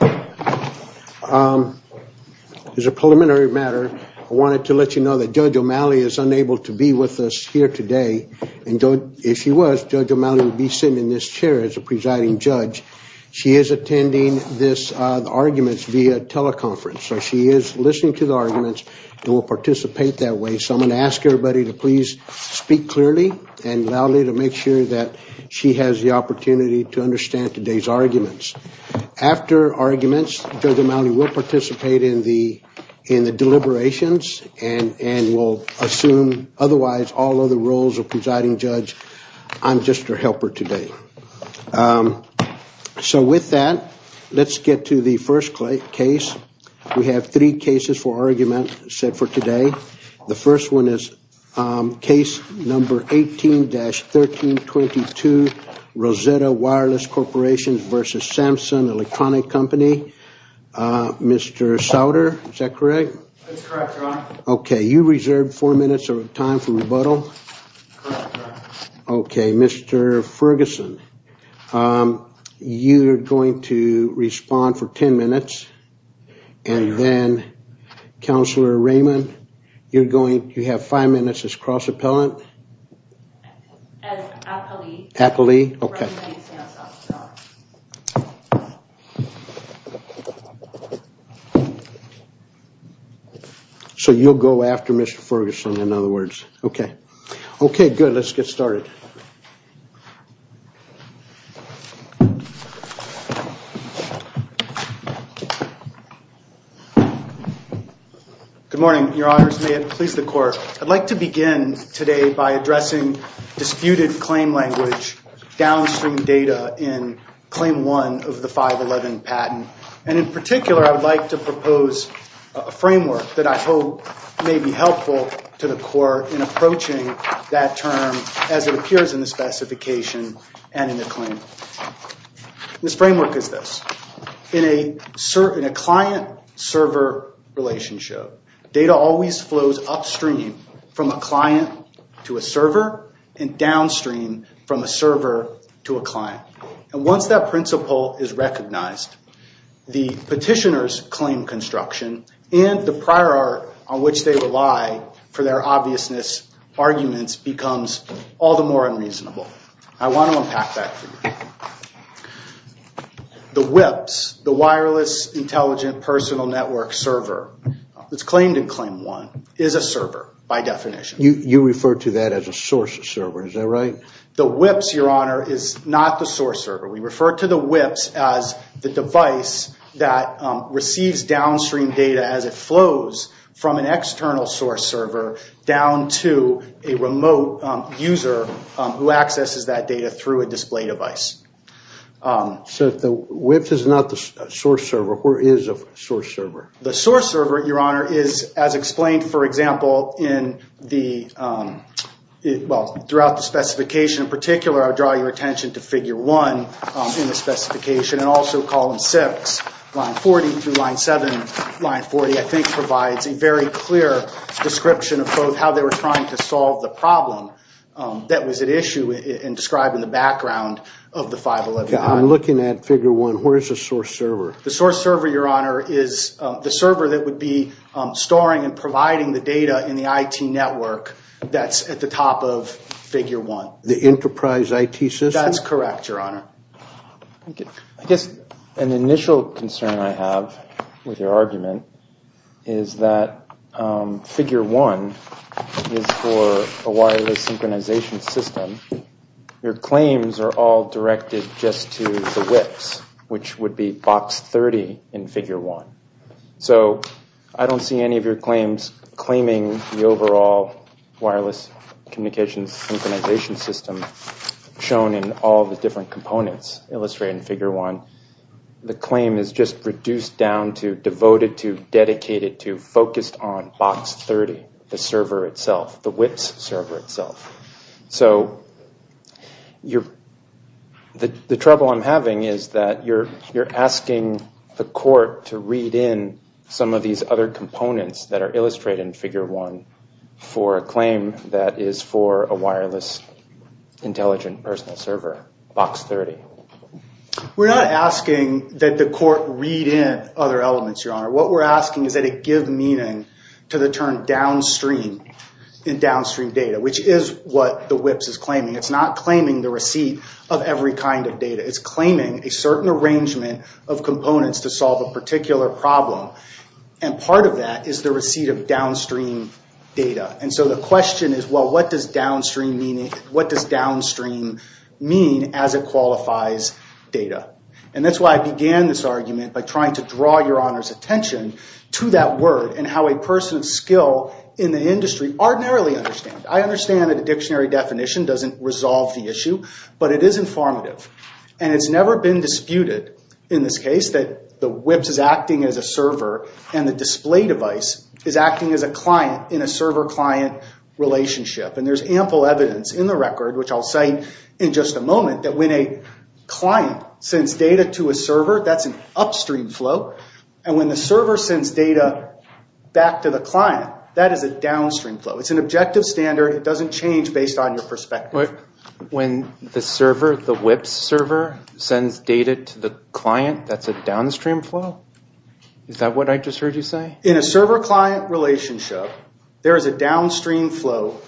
There's a preliminary matter I wanted to let you know that Judge O'Malley is unable to be with us here today and if she was Judge O'Malley would be sitting in this chair as a presiding judge. She is attending this arguments via teleconference so she is listening to the arguments and will participate that way so I'm going to ask everybody to please speak clearly and loudly to make sure that she has the opportunity to understand today's arguments. After arguments Judge O'Malley will participate in the in the deliberations and and will assume otherwise all other roles of presiding judge. I'm just her helper today. So with that let's get to the first case. We have three cases for argument set for today. The first one is case number 18-1322 Rosetta-Wireless Corporation v. Samsung Electronic Company. Mr. Sauter, is that correct? Okay, you reserved four minutes of time for rebuttal. Okay, Mr. Ferguson you're going to respond for ten minutes and then Counselor Raymond you're going you have five minutes as cross-appellant. So you'll go after Mr. Ferguson in other words. Okay, okay good let's get started. Good morning, your honors. May it please the court. I'd like to begin today by addressing disputed claim language downstream data in claim one of the 511 patent and in particular I would like to propose a framework that I hope may be in the specification and in the claim. This framework is this in a certain a client-server relationship data always flows upstream from a client to a server and downstream from a server to a client and once that principle is recognized the petitioners claim construction and the prior art on which they rely for their obviousness arguments becomes all the more unreasonable. I want to unpack that for you. The WIPS, the Wireless Intelligent Personal Network server that's claimed in claim one is a server by definition. You refer to that as a source of server, is that right? The WIPS, your honor, is not the source server. We refer to the WIPS as the device that receives downstream data as it flows from an external source server down to a remote user who accesses that data through a display device. So the WIPS is not the source server. Where is a source server? The source server, your honor, is as explained for example in the, well throughout the specification in particular, I'll draw your attention to figure one in the specification and also column six, line 40 through line 7, line 40 I think provides a very clear description of both how they were trying to solve the problem that was at issue in describing the background of the 511. I'm looking at figure one, where is the source server? The source server, your honor, is the server that would be storing and providing the data in the IT network that's at the top of figure one. The enterprise IT system? That's correct, your honor. I guess an initial concern I have with your argument is that figure one is for a wireless synchronization system. Your claims are all directed just to the WIPS, which would be box 30 in figure one. So I don't see any of your claims claiming the overall wireless communications synchronization system shown in all the different components illustrated in figure one. The claim is just reduced down to, devoted to, dedicated to, focused on box 30, the server itself, the WIPS server itself. So you're, the trouble I'm having is that you're you're asking the court to read in some of these other components that are intelligent personal server, box 30. We're not asking that the court read in other elements, your honor. What we're asking is that it give meaning to the term downstream, in downstream data, which is what the WIPS is claiming. It's not claiming the receipt of every kind of data. It's claiming a certain arrangement of components to solve a particular problem. And part of that is the receipt of downstream data. And so the question is, well, what does downstream meaning, what does downstream mean as it qualifies data? And that's why I began this argument by trying to draw your honor's attention to that word and how a person of skill in the industry ordinarily understands. I understand that a dictionary definition doesn't resolve the issue, but it is informative. And it's never been disputed in this case that the WIPS is acting as a server and the display device is acting as a client in a server-client relationship. And there's ample evidence in the record, which I'll cite in just a moment, that when a client sends data to a server, that's an upstream flow. And when the server sends data back to the client, that is a downstream flow. It's an objective standard. It doesn't change based on your perspective. When the server, the WIPS server, sends data to the client, that's a downstream flow? Is that what I just heard you say? In a server-client relationship, there is a downstream flow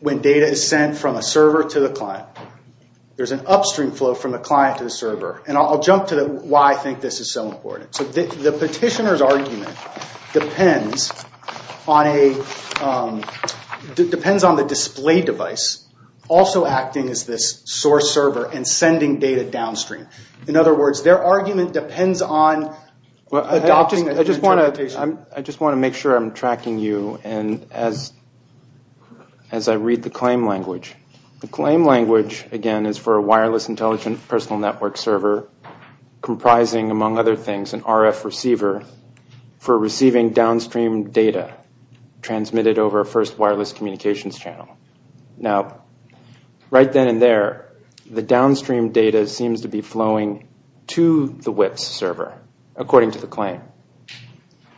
when data is sent from a server to the client. There's an upstream flow from the client to the server. And I'll jump to why I think this is so important. So the petitioner's argument depends on the display device also acting as this source server and sending data downstream. In other words, their argument depends on adopting... I just want to make sure I'm tracking you and as I read the claim language. The claim language, again, is for a wireless intelligent personal network server comprising, among other things, an RF receiver for receiving downstream data transmitted over a first wireless communications channel. Now, right then and there, the downstream data seems to be flowing to the WIPS server, according to the claim.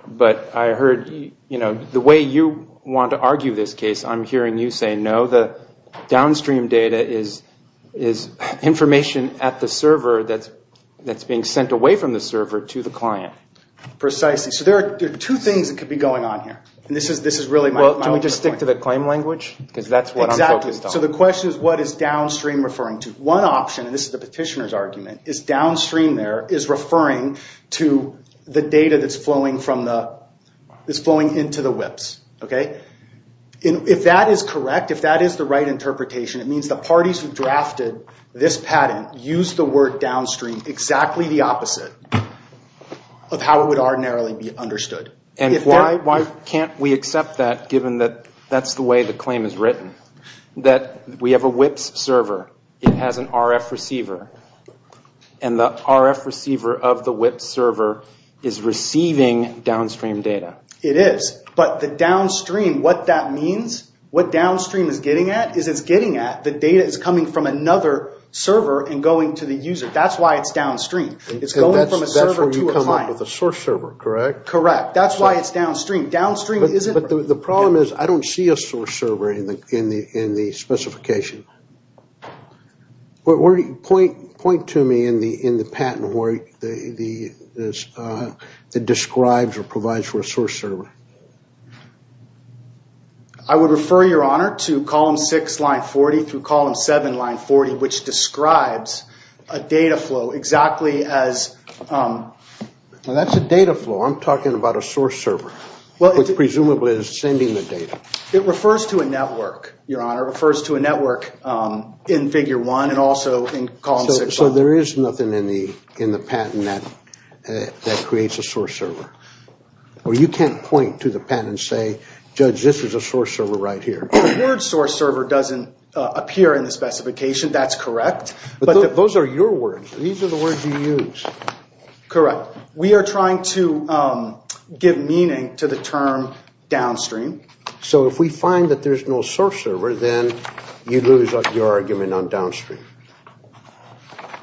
But I heard, you know, the way you want to argue this case, I'm hearing you say, no, the downstream data is information at the server that's being sent away from the server to the client. Precisely. So there are two things that could be going on here, and this is really my point. Well, can we just stick to the claim language? Because that's what I'm focused on. Exactly. So the question is, what is downstream referring to? One option, and this is the petitioner's argument, is downstream there is referring to the data that's flowing into the WIPS. If that is correct, if that is the right interpretation, it means the parties who drafted this patent used the word downstream exactly the opposite of how it would ordinarily be understood. And why can't we accept that, given that that's the way the claim is and the RF receiver of the WIPS server is receiving downstream data? It is, but the downstream, what that means, what downstream is getting at, is it's getting at the data is coming from another server and going to the user. That's why it's downstream. It's going from a server to a client. That's where you come up with a source server, correct? Correct. That's why it's downstream. Downstream isn't... But the problem is, I don't see a source server in the specification. Point to me in the patent where it describes or provides for a source server. I would refer, Your Honor, to column 6, line 40, through column 7, line 40, which describes a data flow exactly as... Now that's a data flow. I'm talking about a source server, which presumably is sending the data. It refers to a network, Your Honor. It refers to a network in figure 1 and also in column 6. So there is nothing in the patent that creates a source server? Or you can't point to the patent and say, Judge, this is a source server right here. The word source server doesn't appear in the specification. That's correct. But those are your words. These are the words you use. Correct. We are trying to give meaning to the term downstream. So if we find that there's no source server, then you lose your argument on downstream.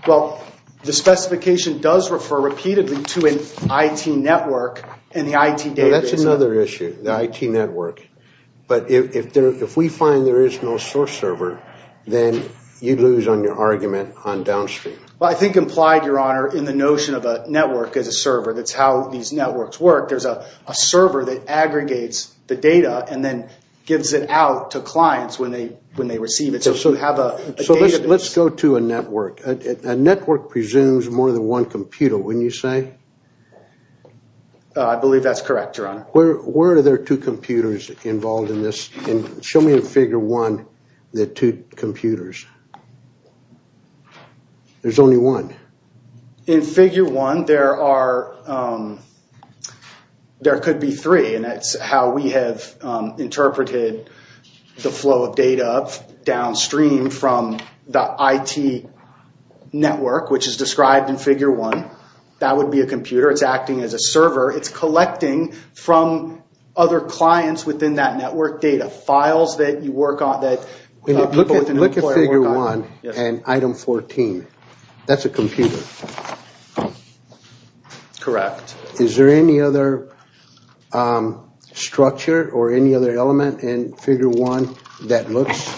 Well, the specification does refer repeatedly to an IT network and the IT database. That's another issue, the IT network. But if we find there is no source server, then you lose on your argument on downstream. Well, I think implied, Your Honor, in the notion of a network as a server. That's how these networks work. There's a server that aggregates the data and then gives it out to clients when they receive it. So let's go to a network. A network presumes more than one computer, wouldn't you say? I believe that's correct, Your Honor. Where are there two computers involved in this? Show me in figure one the two computers. There's only one. In figure one, there could be three. That's how we have interpreted the flow of data downstream from the IT network, which is described in figure one. That would be a computer. It's acting as a server. It's collecting from other clients within that network data, files that you work on. Look at figure one and item 14. That's a computer. Correct. Is there any other structure or any other element in figure one that looks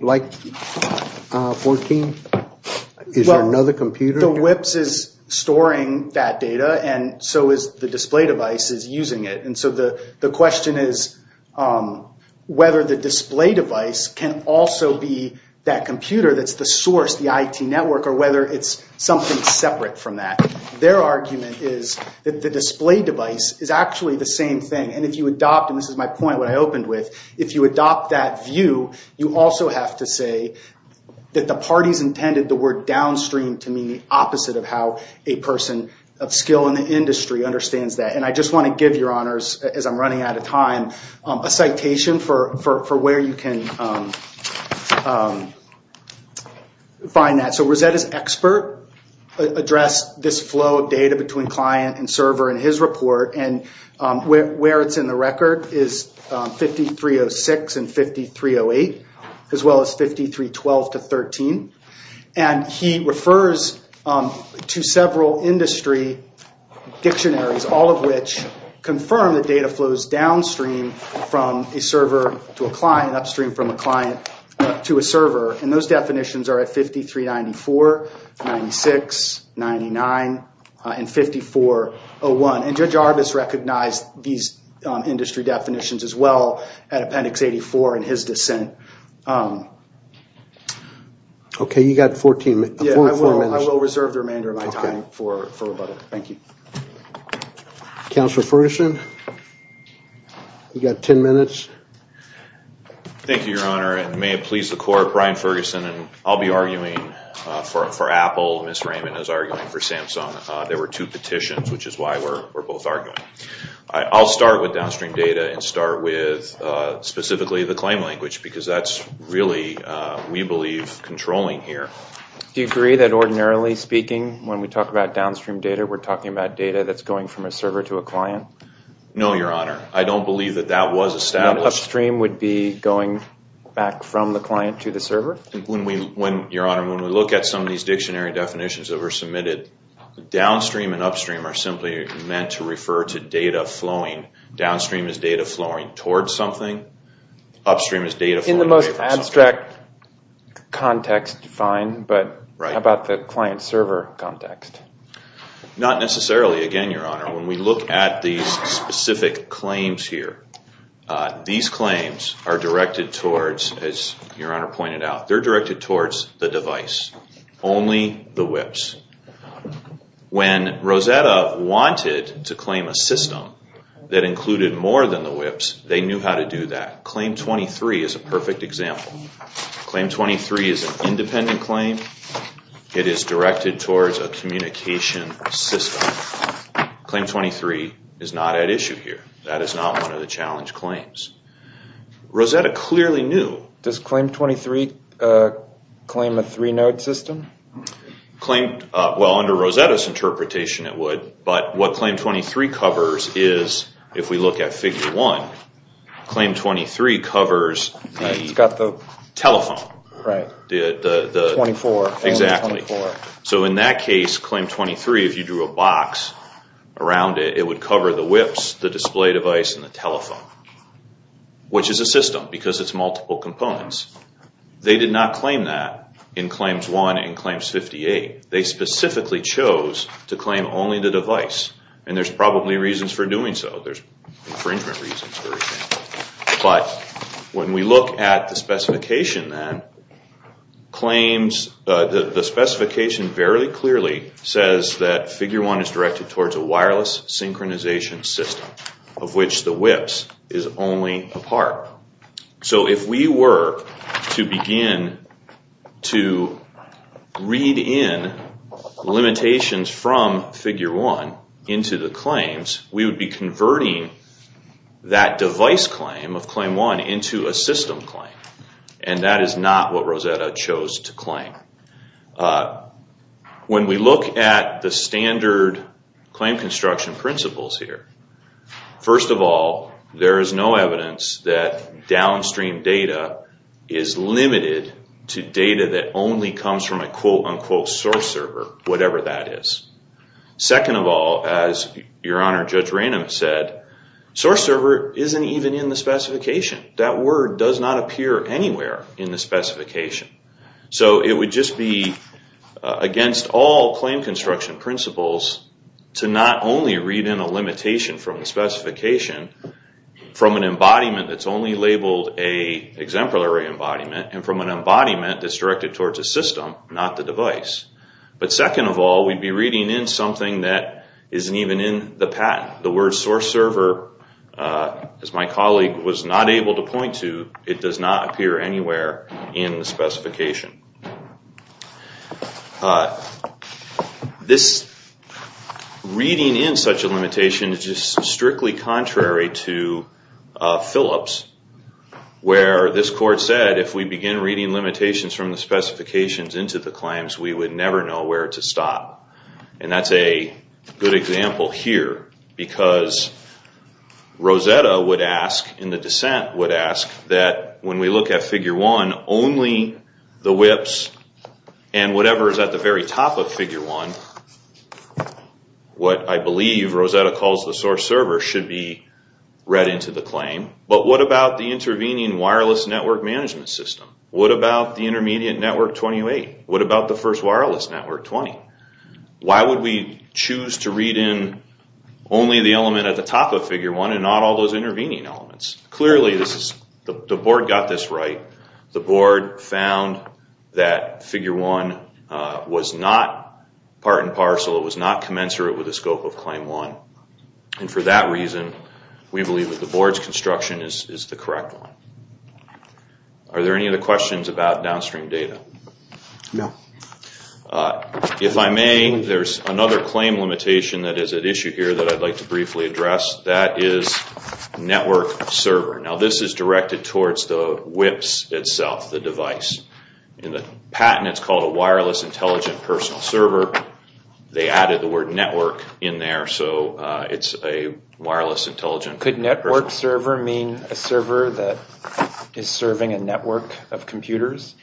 like 14? Is there another computer? The WIPS is storing that data and so is the display device is using it. And so the question is whether the display device can also be that computer that's the source, the IT network, or whether it's something separate from that. Their argument is that the display device is actually the same thing. And if you adopt, and this is my point, what I opened with, if you adopt that view, you also have to say that the parties intended the word downstream to mean the opposite of how a person of skill in the industry understands that. And I just want to give your honors, as I'm running out of time, a citation for where you can find that. So Rosetta's expert addressed this flow of data between client and server in his report. And where it's in the record is 5306 and 5308, as well as 5312 to 13. And he refers to several industry dictionaries, all of which confirm that data flows downstream from a server to a client, to a server, and those definitions are at 5394, 5396, 5399, and 5401. And Judge Arbus recognized these industry definitions as well at Appendix 84 in his dissent. Okay, you got 14 minutes. I will reserve the remainder of my time for further. Thank you. Counselor Ferguson, you got 10 minutes. Thank you, Your Honor, and may it please the court, Brian Ferguson, and I'll be arguing for Apple. Ms. Raymond is arguing for Samsung. There were two petitions, which is why we're both arguing. I'll start with downstream data and start with specifically the claim language because that's really, we believe, controlling here. Do you agree that ordinarily speaking, when we talk about downstream data, we're talking about data that's going from a server to a client? No, Your Honor. I don't believe that that was established. Upstream would be going back from the client to the server? Your Honor, when we look at some of these dictionary definitions that were submitted, downstream and upstream are simply meant to refer to data flowing. Downstream is data flowing towards something. Upstream is data flowing away from something. In the most abstract context, fine, but how about the client-server context? Not necessarily, again, Your Honor. When we look at these specific claims here, these claims are directed towards, as Your Honor pointed out, they're directed towards the device, only the WIPs. When Rosetta wanted to claim a system that included more than the WIPs, they knew how to do that. Claim 23 is a perfect example. Claim 23 is an independent claim. It is directed towards a communication system. Claim 23 is not at issue here. That is not one of the challenge claims. Rosetta clearly knew. Does Claim 23 claim a three-node system? Well, under Rosetta's interpretation, it would, but what Claim 23 covers is, if we look at Figure 1, Claim 23 covers the telephone. Right, 24. Exactly. So in that case, Claim 23, if you drew a box around it, it would cover the WIPs, the display device, and the telephone, which is a system because it's multiple components. They did not claim that in Claims 1 and Claims 58. They specifically chose to claim only the device, and there's probably reasons for doing so. There's infringement reasons for everything. But when we look at the specification, then, the specification very clearly says that Figure 1 is directed towards a wireless synchronization system, of which the WIPs is only a part. So if we were to begin to read in limitations from Figure 1 into the claims, we would be converting that device claim of Claim 1 into a system claim, and that is not what Rosetta chose to claim. When we look at the standard claim construction principles here, first of all, there is no evidence that downstream data is limited to data that only comes from a quote-unquote source server, whatever that is. Second of all, as Your Honor, Judge Ranum said, source server isn't even in the specification. That word does not appear anywhere in the specification. So it would just be against all claim construction principles to not only read in a limitation from the specification from an embodiment that's only labeled a exemplary embodiment and from an embodiment that's directed towards a system, not the device. But second of all, we'd be reading in something that isn't even in the patent. The word source server, as my colleague was not able to point to, it does not appear anywhere in the specification. This reading in such a limitation is just strictly contrary to Phillips, where this court said if we begin reading limitations from the specifications into the claims, we would never know where to stop. And that's a good example here because Rosetta would ask and the dissent would ask that when we look at Figure 1, only the WIPs and whatever is at the very top of Figure 1, what I believe Rosetta calls the source server, should be read into the claim. But what about the intervening wireless network management system? What about the intermediate Network 28? What about the first wireless Network 20? Why would we choose to read in only the element at the top of Figure 1 and not all those intervening elements? Clearly, the board got this right. The board found that Figure 1 was not part and parcel. It was not commensurate with the scope of Claim 1. And for that reason, we believe that the board's construction is the correct one. Are there any other questions about downstream data? No. If I may, there's another claim limitation that is at issue here that I'd like to briefly address. That is network server. Now, this is directed towards the WIPs itself, the device. In the patent, it's called a wireless intelligent personal server. They added the word network in there, so it's a wireless intelligent personal server. Could network server mean a server that is serving a network of computers?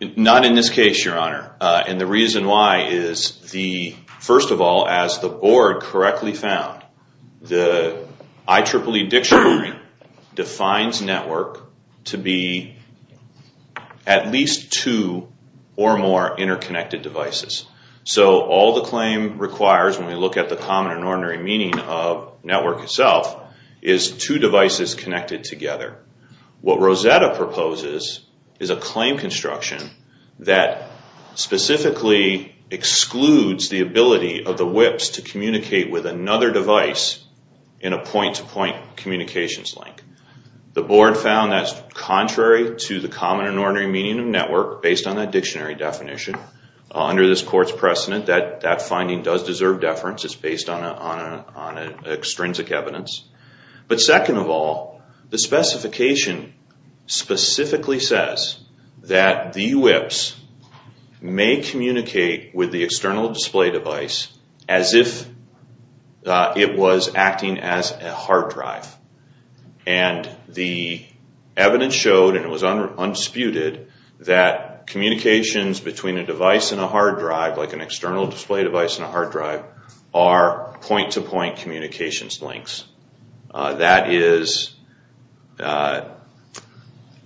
Not in this case, Your Honor. And the reason why is, first of all, as the board correctly found, the IEEE dictionary defines network to be at least two or more interconnected devices. So all the claim requires when we look at the common and ordinary meaning of network itself is two devices connected together. What Rosetta proposes is a claim construction that specifically excludes the ability of the WIPs to communicate with another device in a point-to-point communications link. The board found that's contrary to the common and ordinary meaning of network based on that dictionary definition. Under this court's precedent, that finding does deserve deference. It's based on extrinsic evidence. But second of all, the specification specifically says that the WIPs may communicate with the external display device as if it was acting as a hard drive. And the evidence showed, and it was unsputed, that communications between a device and a hard drive, like an external display device and a hard drive, are point-to-point communications links. That is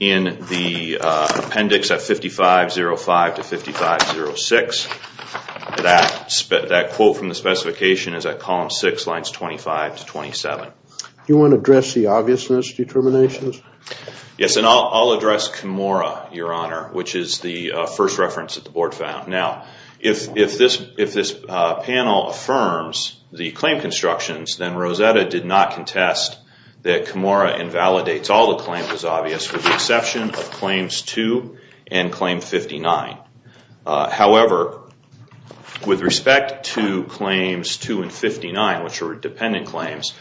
in the appendix at 5505 to 5506. That quote from the specification is at column 6, lines 25 to 27. Do you want to address the obviousness determinations? Yes, and I'll address Comora, Your Honor, which is the first reference that the board found. Now, if this panel affirms the claim constructions, then Rosetta did not contest that Comora invalidates all the claims as obvious with the exception of claims 2 and claim 59. However, with respect to claims 2 and 59, which are dependent claims,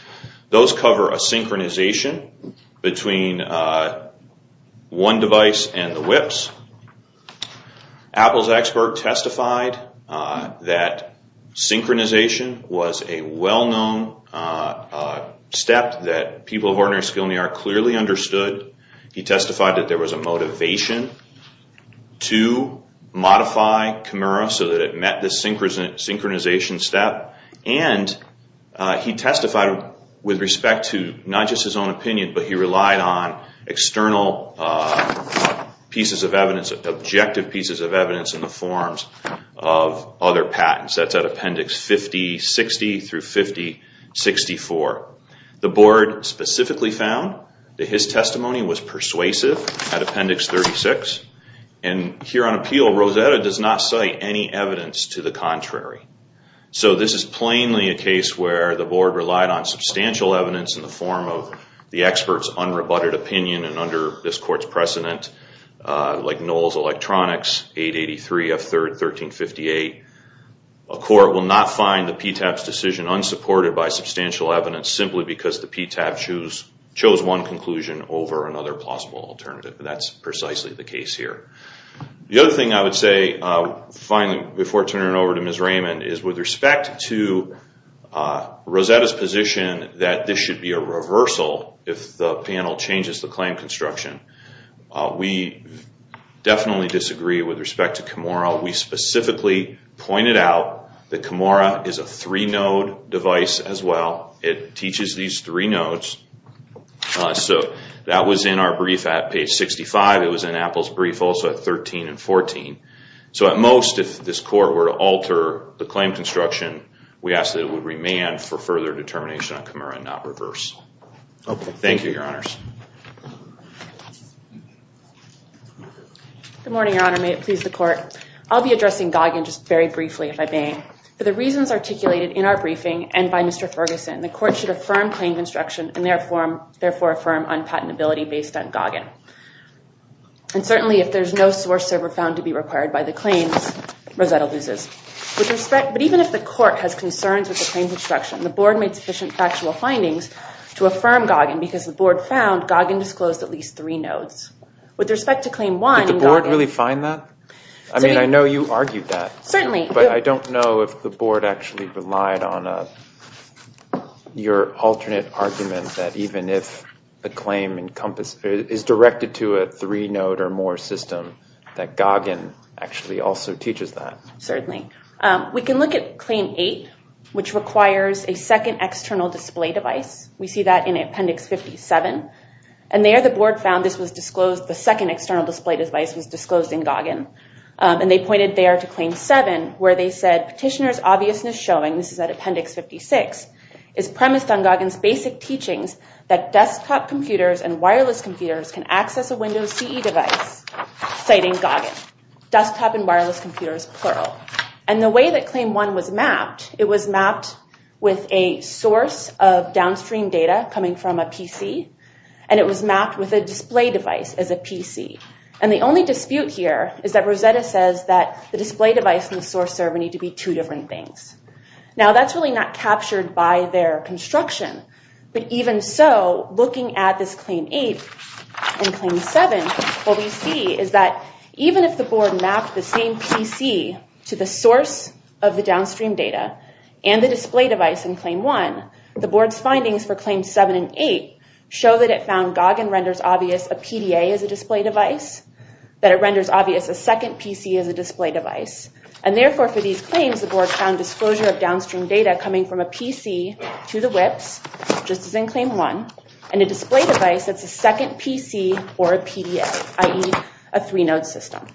those cover a synchronization between one device and the WIPs. Apple's expert testified that synchronization was a well-known step that people of ordinary skill and the art clearly understood. He testified that there was a motivation to modify Comora so that it met the synchronization step. And he testified with respect to not just his own opinion, but he relied on external pieces of evidence, objective pieces of evidence in the forms of other patents. That's at appendix 5060 through 5064. The board specifically found that his testimony was persuasive at appendix 36. And here on appeal, Rosetta does not cite any evidence to the contrary. So this is plainly a case where the board relied on substantial evidence in the form of the expert's unrebutted opinion. And under this court's precedent, like Knowles Electronics, 883 F3rd 1358, a court will not find the PTAB's decision unsupported by substantial evidence simply because the PTAB chose one conclusion over another plausible alternative. That's precisely the case here. The other thing I would say, finally, before turning it over to Ms. Raymond, is with respect to Rosetta's position that this should be a reversal if the panel changes the claim construction, we definitely disagree with respect to Comora. We specifically pointed out that Comora is a three-node device as well. It teaches these three nodes. So that was in our brief at page 65. It was in Apple's brief also at 13 and 14. So at most, if this court were to alter the claim construction, we ask that it would remand for further determination on Comora and not reverse. Thank you, Your Honors. Good morning, Your Honor. May it please the court. I'll be addressing Goggin just very briefly, if I may. For the reasons articulated in our briefing and by Mr. Ferguson, the court should affirm claim construction and therefore affirm unpatentability based on Goggin. And certainly, if there's no source server found to be required by the claims, Rosetta loses. But even if the court has concerns with the claim construction, the board made sufficient factual findings to affirm Goggin because the board found Goggin disclosed at least three nodes. With respect to claim one, Goggin- Did the board really find that? I mean, I know you argued that. Certainly. But I don't know if the board actually relied on your alternate argument that even if the claim is directed to a three-node or more system, that Goggin actually also teaches that. Certainly. We can look at claim eight, which requires a second external display device. We see that in Appendix 57. And there the board found this was disclosed, the second external display device was disclosed in Goggin. And they pointed there to claim seven, where they said petitioner's obviousness showing, this is at Appendix 56, is premised on Goggin's basic teachings that desktop computers and wireless computers can access a Windows CE device, citing Goggin. Desktop and wireless computers, plural. And the way that claim one was mapped, it was mapped with a source of downstream data coming from a PC, and it was mapped with a display device as a PC. And the only dispute here is that Rosetta says that the display device and the source server need to be two different things. Now that's really not captured by their construction. But even so, looking at this claim eight and claim seven, what we see is that even if the board mapped the same PC to the source of the downstream data and the display device in claim one, the board's findings for claims seven and eight show that it found Goggin renders obvious a PDA as a display device, that it renders obvious a second PC as a display device. And therefore, for these claims, the board found disclosure of downstream data coming from a PC to the WIPs, just as in claim one, and a display device that's a second PC or a PDA, i.e., a three-node system.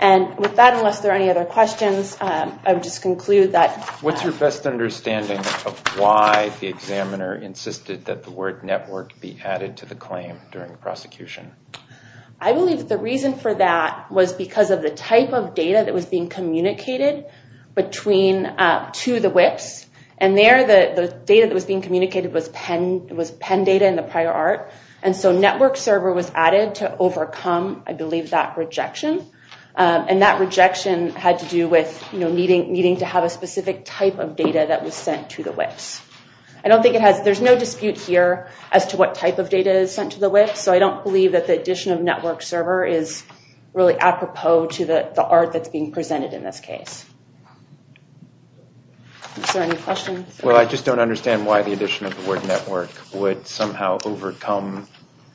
And with that, unless there are any other questions, I would just conclude that... The examiner insisted that the word network be added to the claim during the prosecution. I believe that the reason for that was because of the type of data that was being communicated to the WIPs. And there, the data that was being communicated was PEN data in the prior art. And so network server was added to overcome, I believe, that rejection. And that rejection had to do with needing to have a specific type of data that was sent to the WIPs. I don't think it has... There's no dispute here as to what type of data is sent to the WIPs, so I don't believe that the addition of network server is really apropos to the art that's being presented in this case. Is there any questions? Well, I just don't understand why the addition of the word network would somehow overcome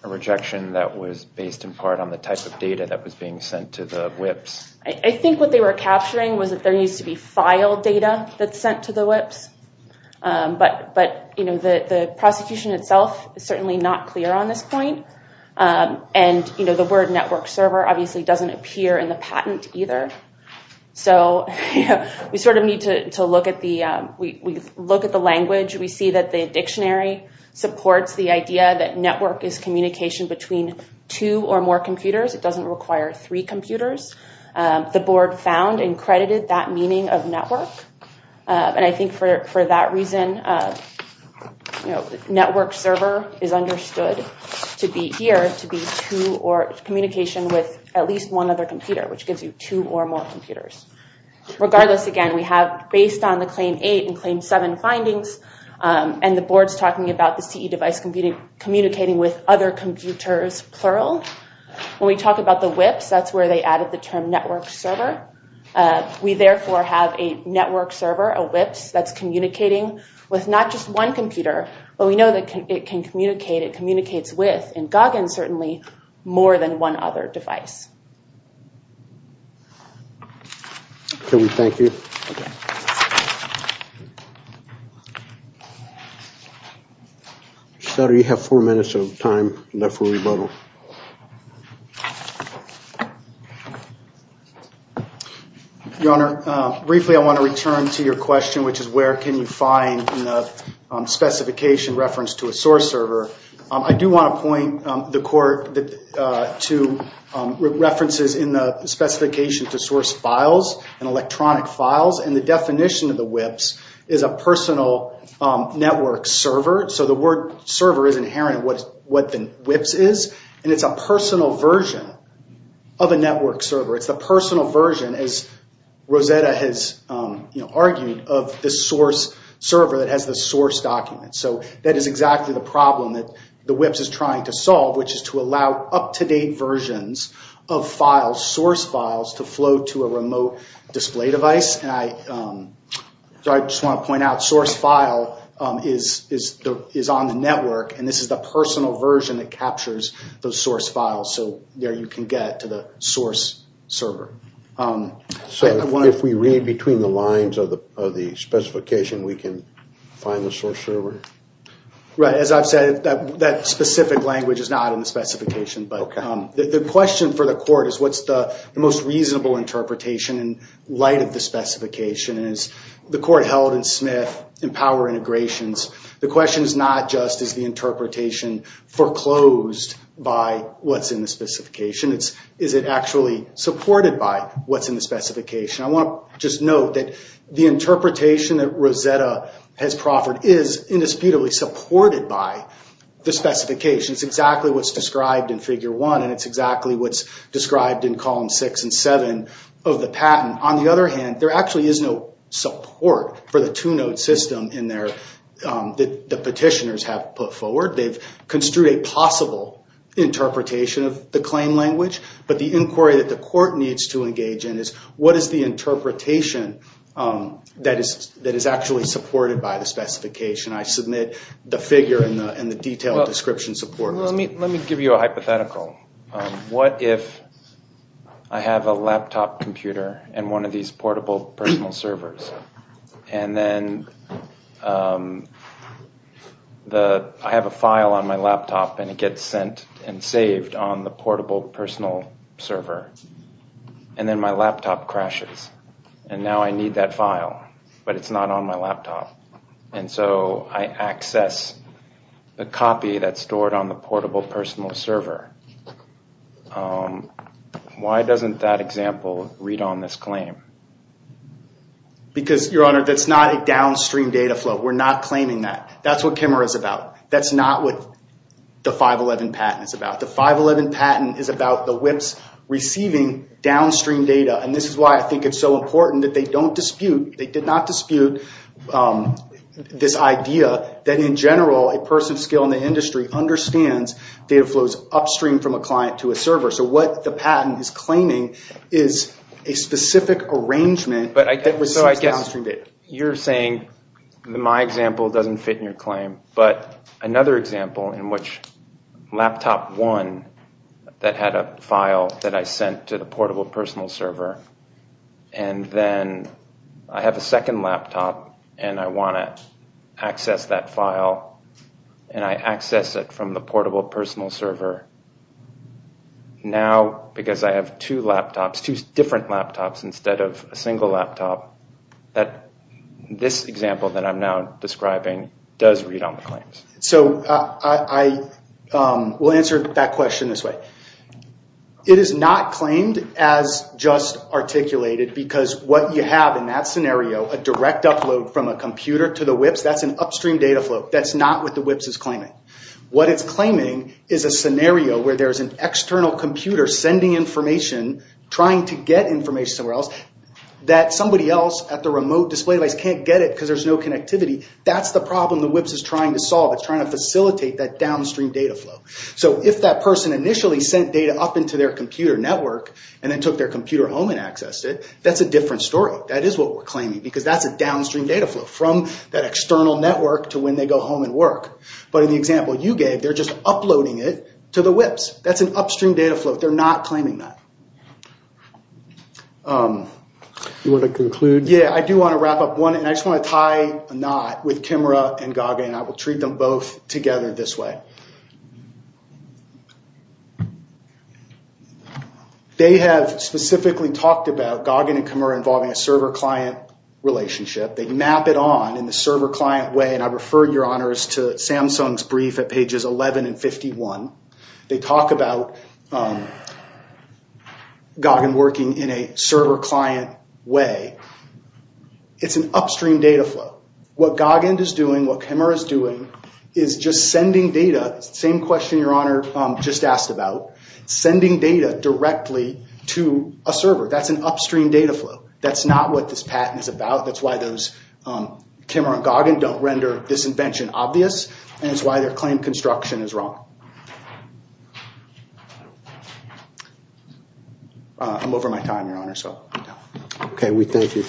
a rejection that was based in part on the type of data that was being sent to the WIPs. I think what they were capturing was that there used to be file data that's sent to the WIPs. But the prosecution itself is certainly not clear on this point. And the word network server obviously doesn't appear in the patent either. So we sort of need to look at the language. We see that the dictionary supports the idea that network is communication between two or more computers. It doesn't require three computers. The board found and credited that meaning of network. And I think for that reason, network server is understood to be here, to be two or communication with at least one other computer, which gives you two or more computers. Regardless, again, we have based on the Claim 8 and Claim 7 findings and the board's talking about the CE device communicating with other computers, plural. When we talk about the WIPs, that's where they added the term network server. We, therefore, have a network server, a WIPs, that's communicating with not just one computer, but we know that it can communicate, it communicates with, and Goggin certainly, more than one other device. Can we thank you? Okay. Senator, you have four minutes of time left for rebuttal. Your Honor, briefly I want to return to your question, which is where can you find in the specification reference to a source server. I do want to point the court to references in the specification to source files and electronic files, and the definition of the WIPs is a personal network server. So the word server is inherent in what the WIPs is, and it's a personal version of a network server. It's the personal version, as Rosetta has argued, of the source server that has the source document. So that is exactly the problem that the WIPs is trying to solve, which is to allow up-to-date versions of files, source files, to flow to a remote display device. So I just want to point out source file is on the network, and this is the personal version that captures those source files, so there you can get to the source server. So if we read between the lines of the specification, we can find the source server? Right. The question for the court is what's the most reasonable interpretation in light of the specification, and as the court held in Smith and Power Integrations, the question is not just is the interpretation foreclosed by what's in the specification, it's is it actually supported by what's in the specification. I want to just note that the interpretation that Rosetta has proffered is indisputably supported by the specification. It's exactly what's described in Figure 1, and it's exactly what's described in Columns 6 and 7 of the patent. On the other hand, there actually is no support for the two-node system that the petitioners have put forward. They've construed a possible interpretation of the claim language, but the inquiry that the court needs to engage in is what is the interpretation that is actually supported by the specification. I submit the figure and the detailed description support. Let me give you a hypothetical. What if I have a laptop computer and one of these portable personal servers, and then I have a file on my laptop and it gets sent and saved on the portable personal server, and then my laptop crashes, and now I need that file, but it's not on my laptop. And so I access the copy that's stored on the portable personal server. Why doesn't that example read on this claim? Because, Your Honor, that's not a downstream data flow. We're not claiming that. That's what Kimmerer is about. That's not what the 511 patent is about. The 511 patent is about the WIPs receiving downstream data, and this is why I think it's so important that they don't dispute, they did not dispute this idea that, in general, a person of skill in the industry understands data flows upstream from a client to a server. So what the patent is claiming is a specific arrangement that receives downstream data. So I guess you're saying my example doesn't fit in your claim, but another example in which laptop one that had a file that I sent to the portable personal server, and then I have a second laptop, and I want to access that file, and I access it from the portable personal server. Now, because I have two laptops, two different laptops instead of a single laptop, this example that I'm now describing does read on the claims. So I will answer that question this way. It is not claimed as just articulated because what you have in that scenario, a direct upload from a computer to the WIPs, that's an upstream data flow. That's not what the WIPs is claiming. What it's claiming is a scenario where there's an external computer sending information, trying to get information somewhere else, that somebody else at the remote display device can't get it because there's no connectivity. That's the problem the WIPs is trying to solve. It's trying to facilitate that downstream data flow. So if that person initially sent data up into their computer network and then took their computer home and accessed it, that's a different story. That is what we're claiming because that's a downstream data flow from that external network to when they go home and work. But in the example you gave, they're just uploading it to the WIPs. That's an upstream data flow. They're not claiming that. You want to conclude? Yeah, I do want to wrap up one, and I just want to tie a knot with Kimra and Gaga, and I will treat them both together this way. They have specifically talked about Gaga and Kimra involving a server-client relationship. They map it on in the server-client way, and I refer your honors to Samsung's brief at pages 11 and 51. They talk about Gaga working in a server-client way. It's an upstream data flow. What Gaga is doing, what Kimra is doing, is just sending data. Same question your honor just asked about, sending data directly to a server. That's an upstream data flow. That's not what this patent is about. That's why those Kimra and Gaga don't render this invention obvious, and it's why their claim construction is wrong. I'm over my time, your honor, so I'm done. Okay, we thank you.